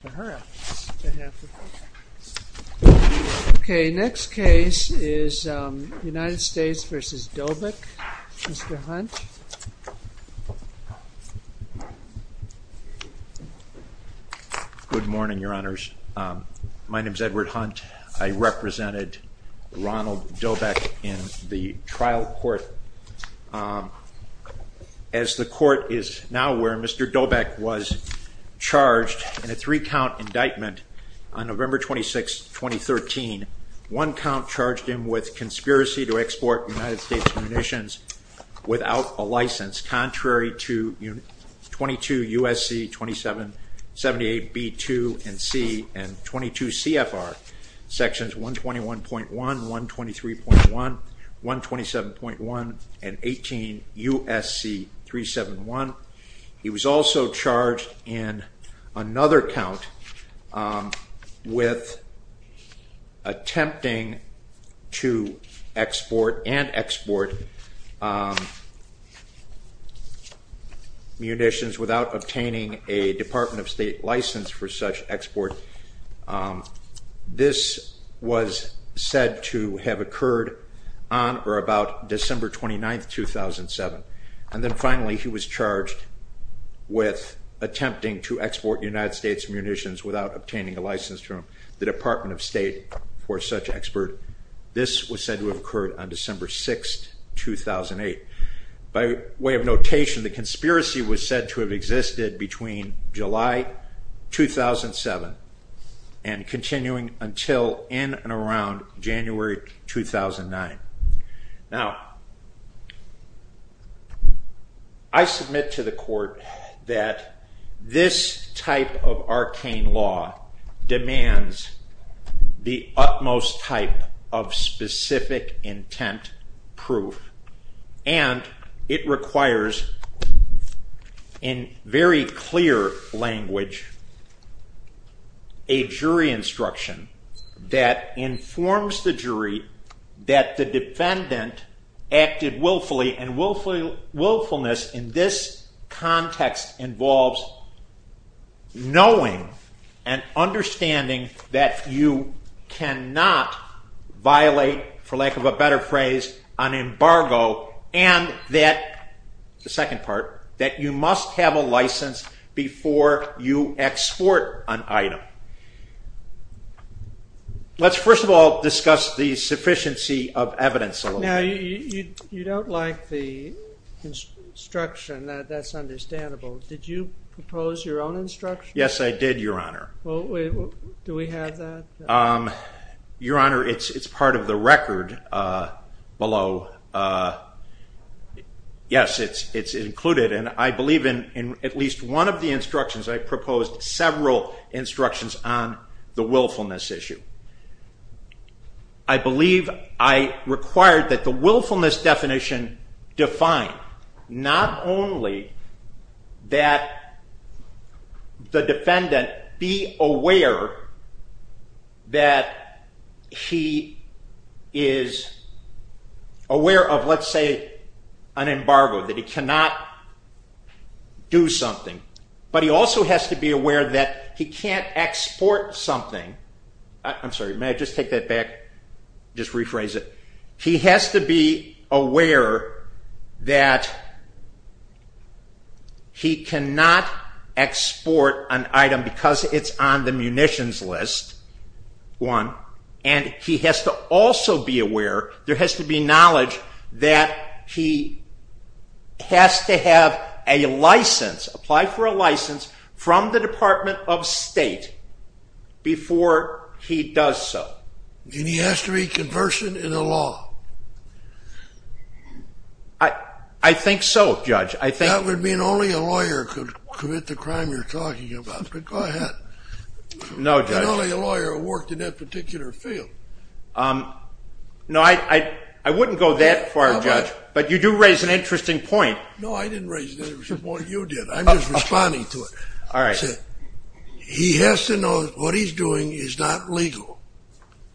Good morning, your honors. My name is Edward Hunt. I represented Ronald Dobek in the trial court. As the court is now aware, Mr. Dobek was charged in a three-count indictment on November 26, 2013. One count charged him with conspiracy to export United States munitions without a license contrary to 22 U.S.C. 2778 B.2 and C. and 22 C.F.R. Sections 121.1, 123.1, 127.1, and 18 U.S.C. 371. He was also charged in another count with attempting to export and export munitions without obtaining a Department of State license for such expert. This was said to have occurred on December 6, 2008. By way of notation, the conspiracy was said to have existed between July 2007 and continuing until in and around January 2009. Now, I submit to the court that this type of arcane law demands the utmost type of specific intent proof, and it instruction that informs the jury that the defendant acted willfully, and willfulness in this context involves knowing and understanding that you cannot violate, for lack of a better phrase, an embargo, and that, the second part, that you must have a license before you export an item. Let's first of all discuss the sufficiency of evidence a little. Now, you don't like the instruction. That's understandable. Did you propose your own instruction? Yes, I did, Your Honor. Do we have that? Your Honor, it's part of the record below. Yes, it's included, and I believe in at least one of the instructions, I proposed several instructions on the willfulness issue. I believe I required that the willfulness definition define not only that the defendant be aware that he is aware of, let's say, an embargo, that he cannot do something, but he also has to be aware that he can't export something. I'm sorry, may I just take that back, just rephrase it? He has to be aware that he cannot export an item because it's on the munitions list, one, and he has to also be aware, there has to be knowledge, that he has to have a license, apply for a license, from the Department of State, before he does so. And he has to be conversant in the law? I think so, Judge. That would mean only a lawyer could commit the crime you're talking about, but go ahead. No, Judge. And only a lawyer who worked in that particular field. No, I wouldn't go that far, Judge, but you do raise an interesting point. No, I didn't raise an interesting point, you did. I'm just responding to it. All right. He has to know that what he's doing is not legal.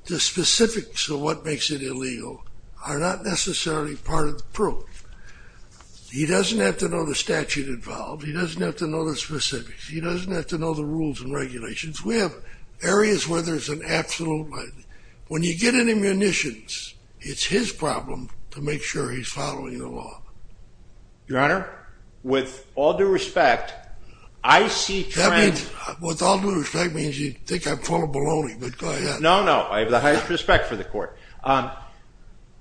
The specifics of what makes it illegal are not necessarily part of the proof. He doesn't have to know the statute involved. He doesn't have to know the specifics. He doesn't have to know the rules and regulations. We have areas where there's an absolute, when you get into munitions, it's his problem to make sure he's following the law. Your Honor, with all due respect, I see trends. With all due respect means you think I'm full of baloney, but go ahead. No, no, I have the highest respect for the court.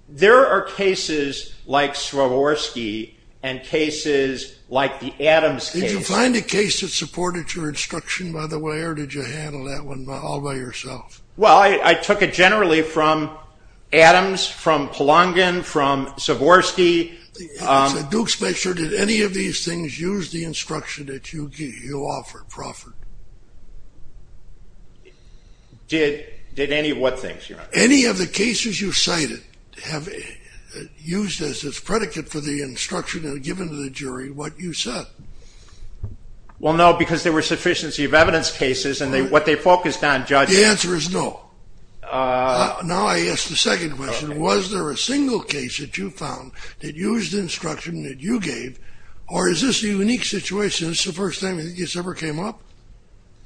There are cases like Swarovski and cases like the Adams case. Did you find a case that supported your instruction by the way, or did you handle that one all by yourself? Well, I took it generally from Adams, from Polongin, from Swarovski. Do make sure, did any of these things use the instruction that you offered, Crawford? Did any of what things, Your Honor? Any of the cases you cited have used as its predicate for the instruction given to the jury what you said. Well, no, because there were sufficiency of evidence cases and what they focused on, Judge. The answer is no. Now I ask the second question. Was there a single case that you found that used the instruction that you gave, or is this a unique situation? Is this the first time it's ever came up?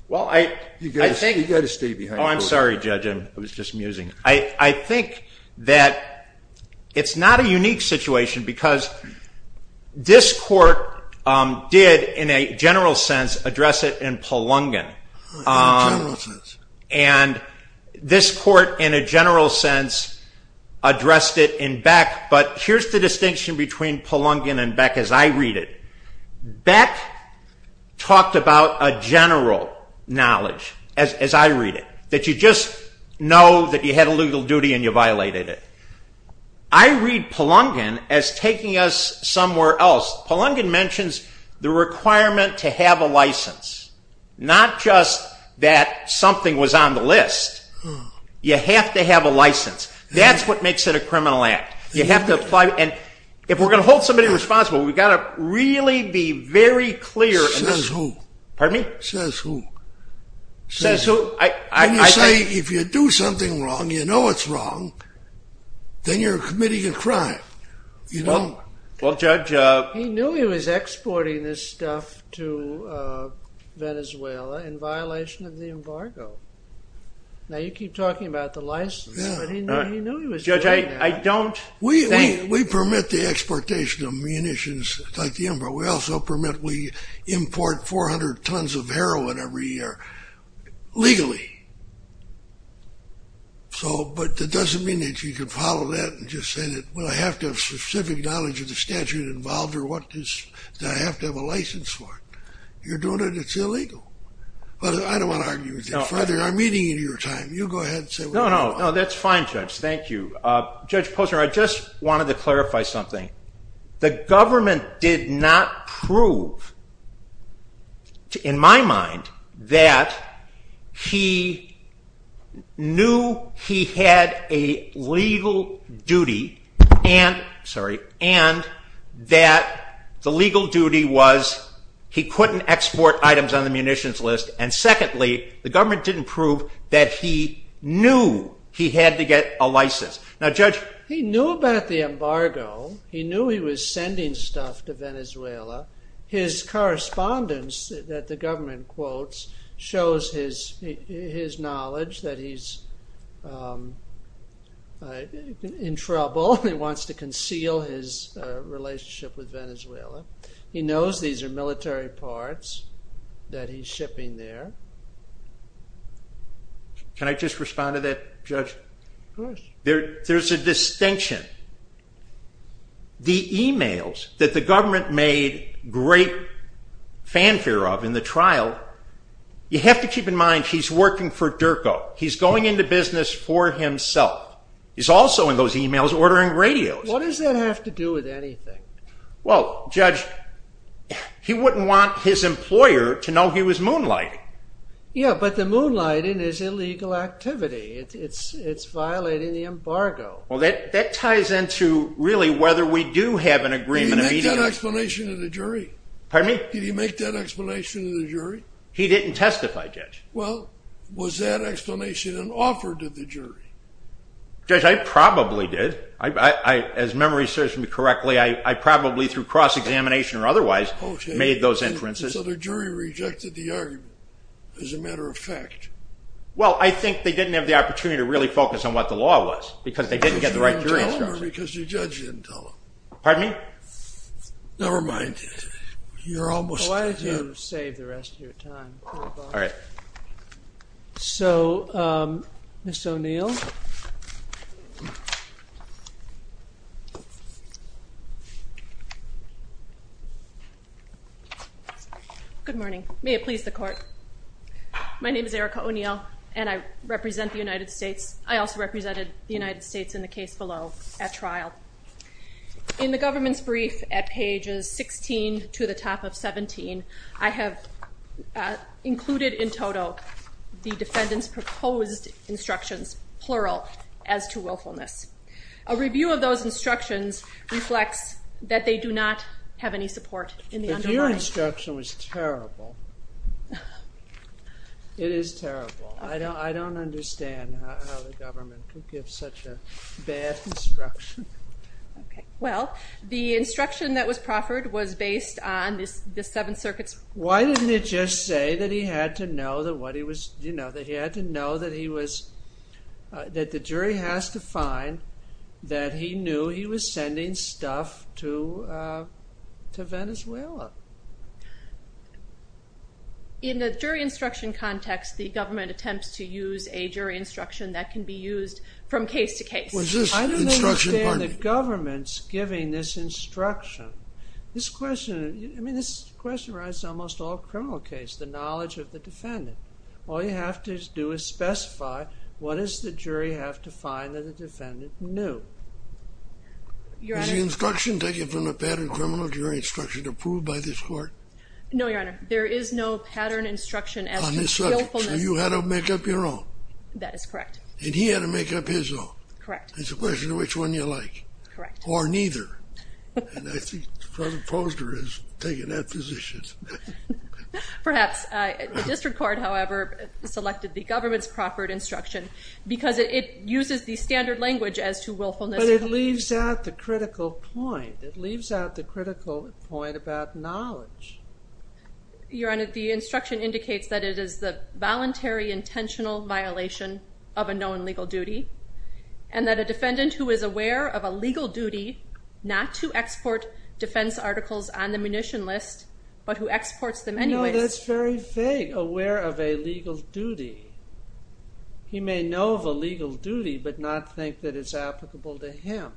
Well, I think... You've got to stay behind the court. Oh, I'm sorry, Judge. I was just musing. I think that it's not a unique situation because this court did, in a general sense, address it in Polongin. In a general sense. And this court, in a general sense, addressed it in Beck. But here's the distinction between Polongin and Beck as I read it. Beck talked about a general knowledge, as I read it, that you just know that you had a legal duty and you violated it. I read Polongin as taking us somewhere else. Polongin mentions the requirement to have a license, not just that something was on the list. You have to have a license. That's what makes it a criminal act. If we're going to hold somebody responsible, we've got to really be very clear... Says who? Pardon me? Says who? Says who? When you say, if you do something wrong, you know it's wrong, then you're committing a crime. Well, Judge... He knew he was exporting this stuff to Venezuela in violation of the embargo. Now, you keep talking about the license, but he knew he was doing that. Judge, I don't think... We permit the exportation of munitions like the embargo. We also permit, we import 400 tons of heroin every year, legally. But that doesn't mean that you can follow that and just say that, well, I have to have specific knowledge of the statute involved or that I have to have a license for it. You're doing it, it's illegal. But I don't want to argue with you. Further, I'm eating into your time. You go ahead and say what you want. No, no, that's fine, Judge. Thank you. Judge Posner, I just wanted to clarify something. The government did not prove, in my mind, that he knew he had a legal duty and that the legal duty was he couldn't export items on the munitions list. And secondly, the government didn't prove that he knew he had to get a license. Now, Judge... He knew about the embargo. He knew he was sending stuff to Venezuela. His correspondence that the government quotes shows his knowledge that he's in trouble. He wants to conceal his relationship with Venezuela. He knows these are military parts that he's shipping there. Can I just respond to that, Judge? Of course. There's a distinction. The emails that the government made great fanfare of in the trial, you have to keep in mind he's working for DERCO. He's going into business for himself. He's also, in those emails, ordering radios. What does that have to do with anything? Well, Judge, he wouldn't want his employer to know he was moonlighting. Yeah, but the moonlighting is illegal activity. It's violating the embargo. Well, that ties into, really, whether we do have an agreement immediately. Did he make that explanation to the jury? Pardon me? Did he make that explanation to the jury? He didn't testify, Judge. Well, was that explanation an offer to the jury? Judge, I probably did. As memory serves me correctly, I probably, through cross-examination or otherwise, made those inferences. Okay, so the jury rejected the argument, as a matter of fact. Well, I think they didn't have the opportunity to really focus on what the law was, because they didn't get the right jury instructions. Because the jury didn't tell him, or because the judge didn't tell him? Pardon me? Never mind. You're almost there. Why don't you save the rest of your time? All right. So, Ms. O'Neill? Good morning. May it please the Court. My name is Erica O'Neill, and I represent the United States. I also represented the United States in the case below at trial. In the government's brief at pages 16 to the top of 17, I have included in total the defendant's proposed instructions, plural, as to willfulness. A review of those instructions reflects that they do not have any support in the underlying... But your instruction was terrible. It is terrible. I don't understand how the government could give such a bad instruction. Okay. Well, the instruction that was proffered was based on the Seventh Circuit's... that he knew he was sending stuff to Venezuela. In the jury instruction context, the government attempts to use a jury instruction that can be used from case to case. Was this instruction... I don't understand the government's giving this instruction. This question... I mean, this question raises almost all criminal cases, the knowledge of the defendant. All you have to do is specify what does the jury have to find that the defendant knew. Your Honor... Is the instruction taken from the pattern criminal jury instruction approved by this court? No, Your Honor. There is no pattern instruction as to willfulness. On this subject. So you had to make up your own. That is correct. And he had to make up his own. Correct. It's a question of which one you like. Correct. Or neither. And I think Judge Posner has taken that position. Perhaps. The district court, however, selected the government's proper instruction because it uses the standard language as to willfulness. But it leaves out the critical point. It leaves out the critical point about knowledge. Your Honor, the instruction indicates that it is the voluntary intentional violation of a known legal duty and that a defendant who is aware of a legal duty not to export defense articles on the munition list but who exports them anyway... No, that's very vague. Aware of a legal duty. He may know of a legal duty but not think that it's applicable to him.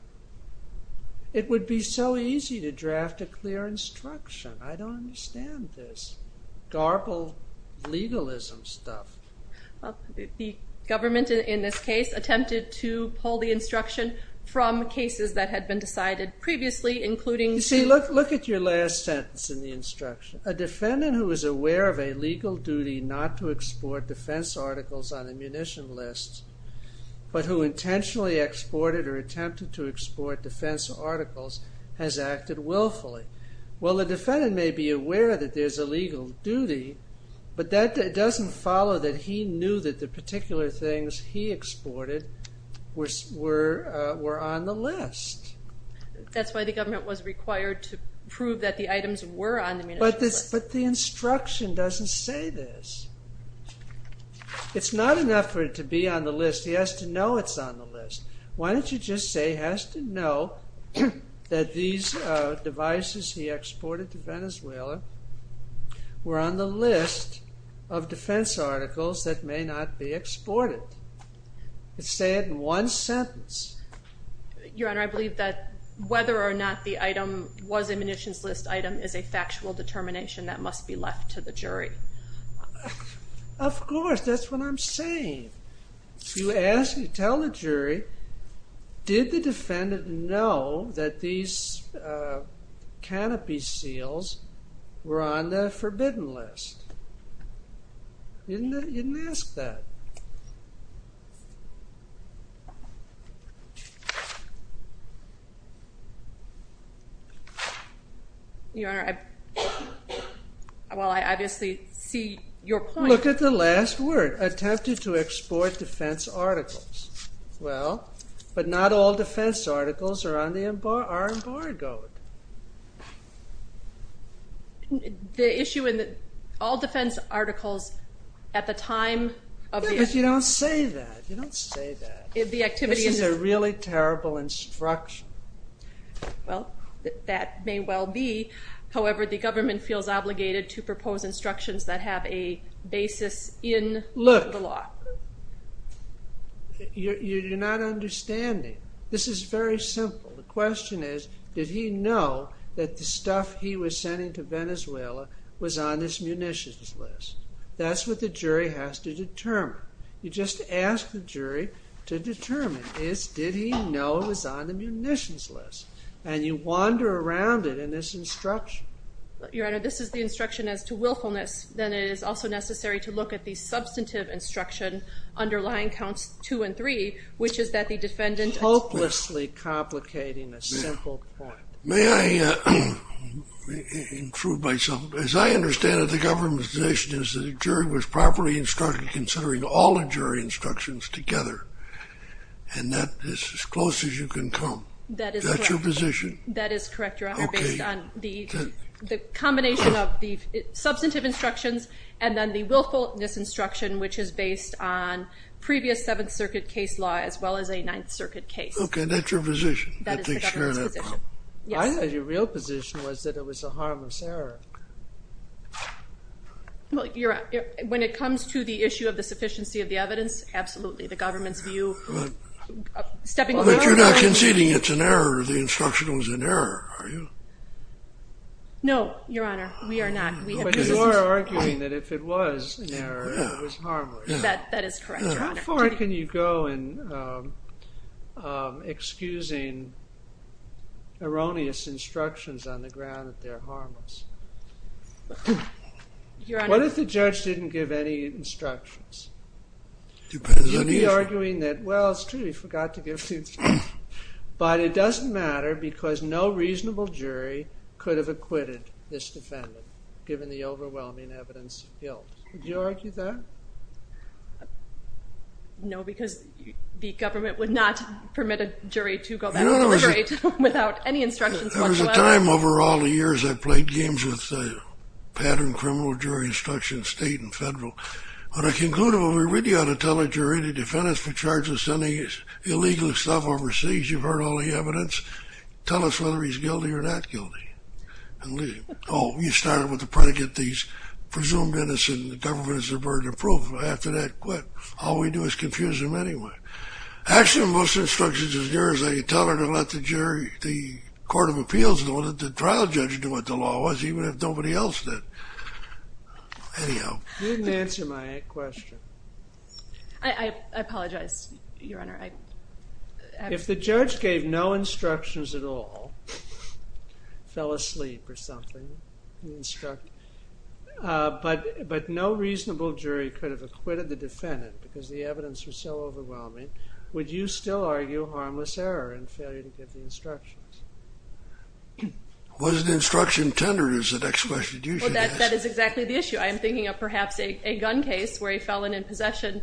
It would be so easy to draft a clear instruction. I don't understand this garbled legalism stuff. The government, in this case, attempted to pull the instruction from cases that had been decided previously, including... You see, look at your last sentence in the instruction. A defendant who is aware of a legal duty not to export defense articles on the munition list but who intentionally exported or attempted to export defense articles has acted willfully. Well, the defendant may be aware that there's a legal duty but that doesn't follow that he knew that the particular things he exported were on the list. That's why the government was required to prove that the items were on the munition list. But the instruction doesn't say this. It's not enough for it to be on the list. He has to know it's on the list. Why don't you just say he has to know that these devices he exported to Venezuela were on the list of defense articles that may not be exported? Say it in one sentence. Your Honor, I believe that whether or not the item was a munitions list item is a factual determination that must be left to the jury. Of course, that's what I'm saying. You tell the jury, did the defendant know that these canopy seals were on the forbidden list? You didn't ask that. Your Honor, well, I obviously see your point. Look at the last word, attempted to export defense articles. Well, but not all defense articles are embargoed. The issue in all defense articles at the time of the... But you don't say that. This is a really terrible instruction. Well, that may well be. However, the government feels obligated to propose instructions that have a basis in the law. Look, you're not understanding. This is very simple. The question is, did he know that the stuff he was sending to Venezuela was on this munitions list? That's what the jury has to determine. You just ask the jury to determine, did he know it was on the munitions list? And you wander around it in this instruction. Your Honor, this is the instruction as to willfulness. Then it is also necessary to look at the substantive instruction underlying counts two and three, which is that the defendant... Hopelessly complicating a simple point. May I improve myself? As I understand it, the government's position is that the jury was properly instructed considering all the jury instructions together. And that is as close as you can come. That is correct. That's your position? That is correct, Your Honor, based on the combination of the substantive instructions and then the willfulness instruction, which is based on previous Seventh Circuit case law as well as a Ninth Circuit case. Okay, that's your position? That is the government's position. I thought your real position was that it was a harmless error. When it comes to the issue of the sufficiency of the evidence, absolutely. The government's view... But you're not conceding it's an error, the instruction was an error, are you? No, Your Honor, we are not. But you are arguing that if it was an error, it was harmless. That is correct, Your Honor. How far can you go in excusing erroneous instructions on the ground that they're harmless? What if the judge didn't give any instructions? It depends on the issue. You'd be arguing that, well, it's true, he forgot to give instructions. But it doesn't matter because no reasonable jury could have acquitted this defendant given the overwhelming evidence of guilt. Would you argue that? No, because the government would not permit a jury to go back and deliberate without any instructions whatsoever. There was a time over all the years I played games with the pattern criminal jury instructions, state and federal. But I concluded, well, we really ought to tell the jury the defendant's been charged with sending illegal stuff overseas. You've heard all the evidence. Tell us whether he's guilty or not guilty. Oh, you started with the predicate that he's presumed innocent and the government is a burden of proof. After that, quit. All we do is confuse him anyway. Actually, most instructions are yours. You tell her to let the jury, the Court of Appeals know that the trial judge knew what the law was even if nobody else did. Anyhow. You didn't answer my question. I apologize, Your Honor. If the judge gave no instructions at all, fell asleep or something, but no reasonable jury could have acquitted the defendant because the evidence was so overwhelming, would you still argue harmless error and failure to give the instructions? Was the instruction tendered is the next question you should ask. Well, that is exactly the issue. I am thinking of perhaps a gun case where a felon in possession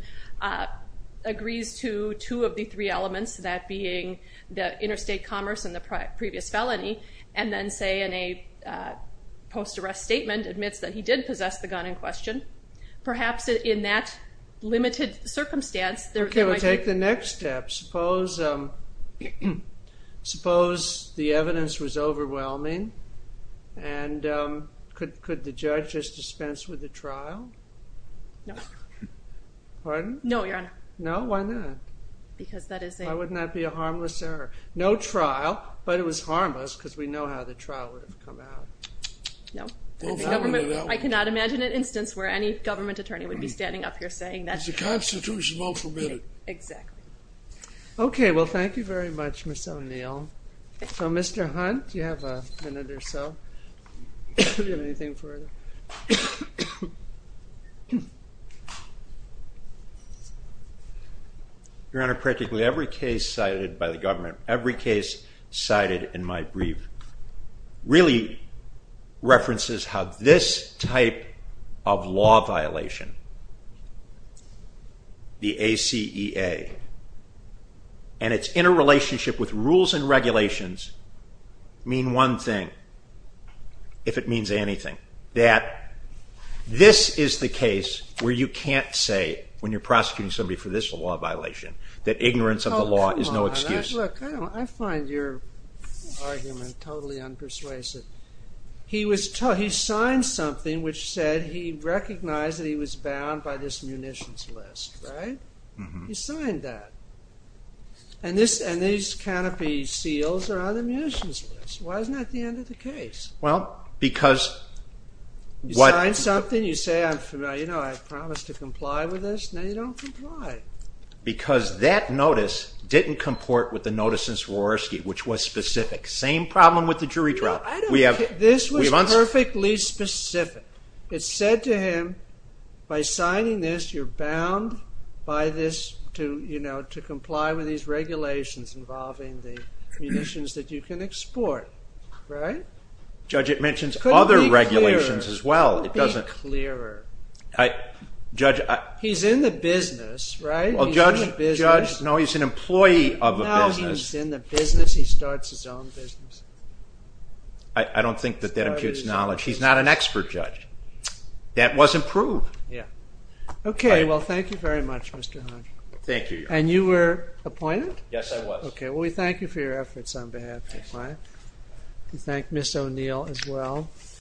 agrees to two of the three elements, that being the interstate commerce and the previous felony, and then say in a post-arrest statement admits that he did possess the gun in question. Perhaps in that limited circumstance, there might be. Okay. We'll take the next step. Suppose the evidence was overwhelming, and could the judge just dispense with the trial? No. Pardon? No, Your Honor. No? Why not? Because that is a... Why wouldn't that be a harmless error? No trial, but it was harmless because we know how the trial would have come out. No. I cannot imagine an instance where any government attorney would be standing up here saying that... It's the Constitution. It's not permitted. Exactly. Okay. Well, thank you very much, Ms. O'Neill. So, Mr. Hunt, you have a minute or so. Do you have anything for us? Your Honor, practically every case cited by the government, every case cited in my brief, really references how this type of law violation, the ACEA, and its interrelationship with rules and regulations, mean one thing, if it means anything, that this is the case where you can't say, when you're prosecuting somebody for this law violation, that ignorance of the law is no excuse. Oh, come on. Look, I find your argument totally unpersuasive. He signed something which said he recognized that he was bound by this munitions list, right? He signed that. And these canopy seals are on the munitions list. Why isn't that the end of the case? Well, because... You sign something, you say, you know, I promise to comply with this. No, you don't comply. Because that notice didn't comport with the notice in Swarovski, which was specific. Same problem with the jury trial. This was perfectly specific. It said to him, by signing this, you're bound by this, to comply with these regulations involving the munitions that you can export. Right? Judge, it mentions other regulations as well. It couldn't be clearer. Judge, I... He's in the business, right? Judge, no, he's an employee of a business. He's in the business. He starts his own business. I don't think that that imputes knowledge. He's not an expert, Judge. That wasn't proved. Okay. Well, thank you very much, Mr. Hodge. Thank you, Your Honor. And you were appointed? Yes, I was. Okay. Well, we thank you for your efforts on behalf of the client. We thank Ms. O'Neill as well.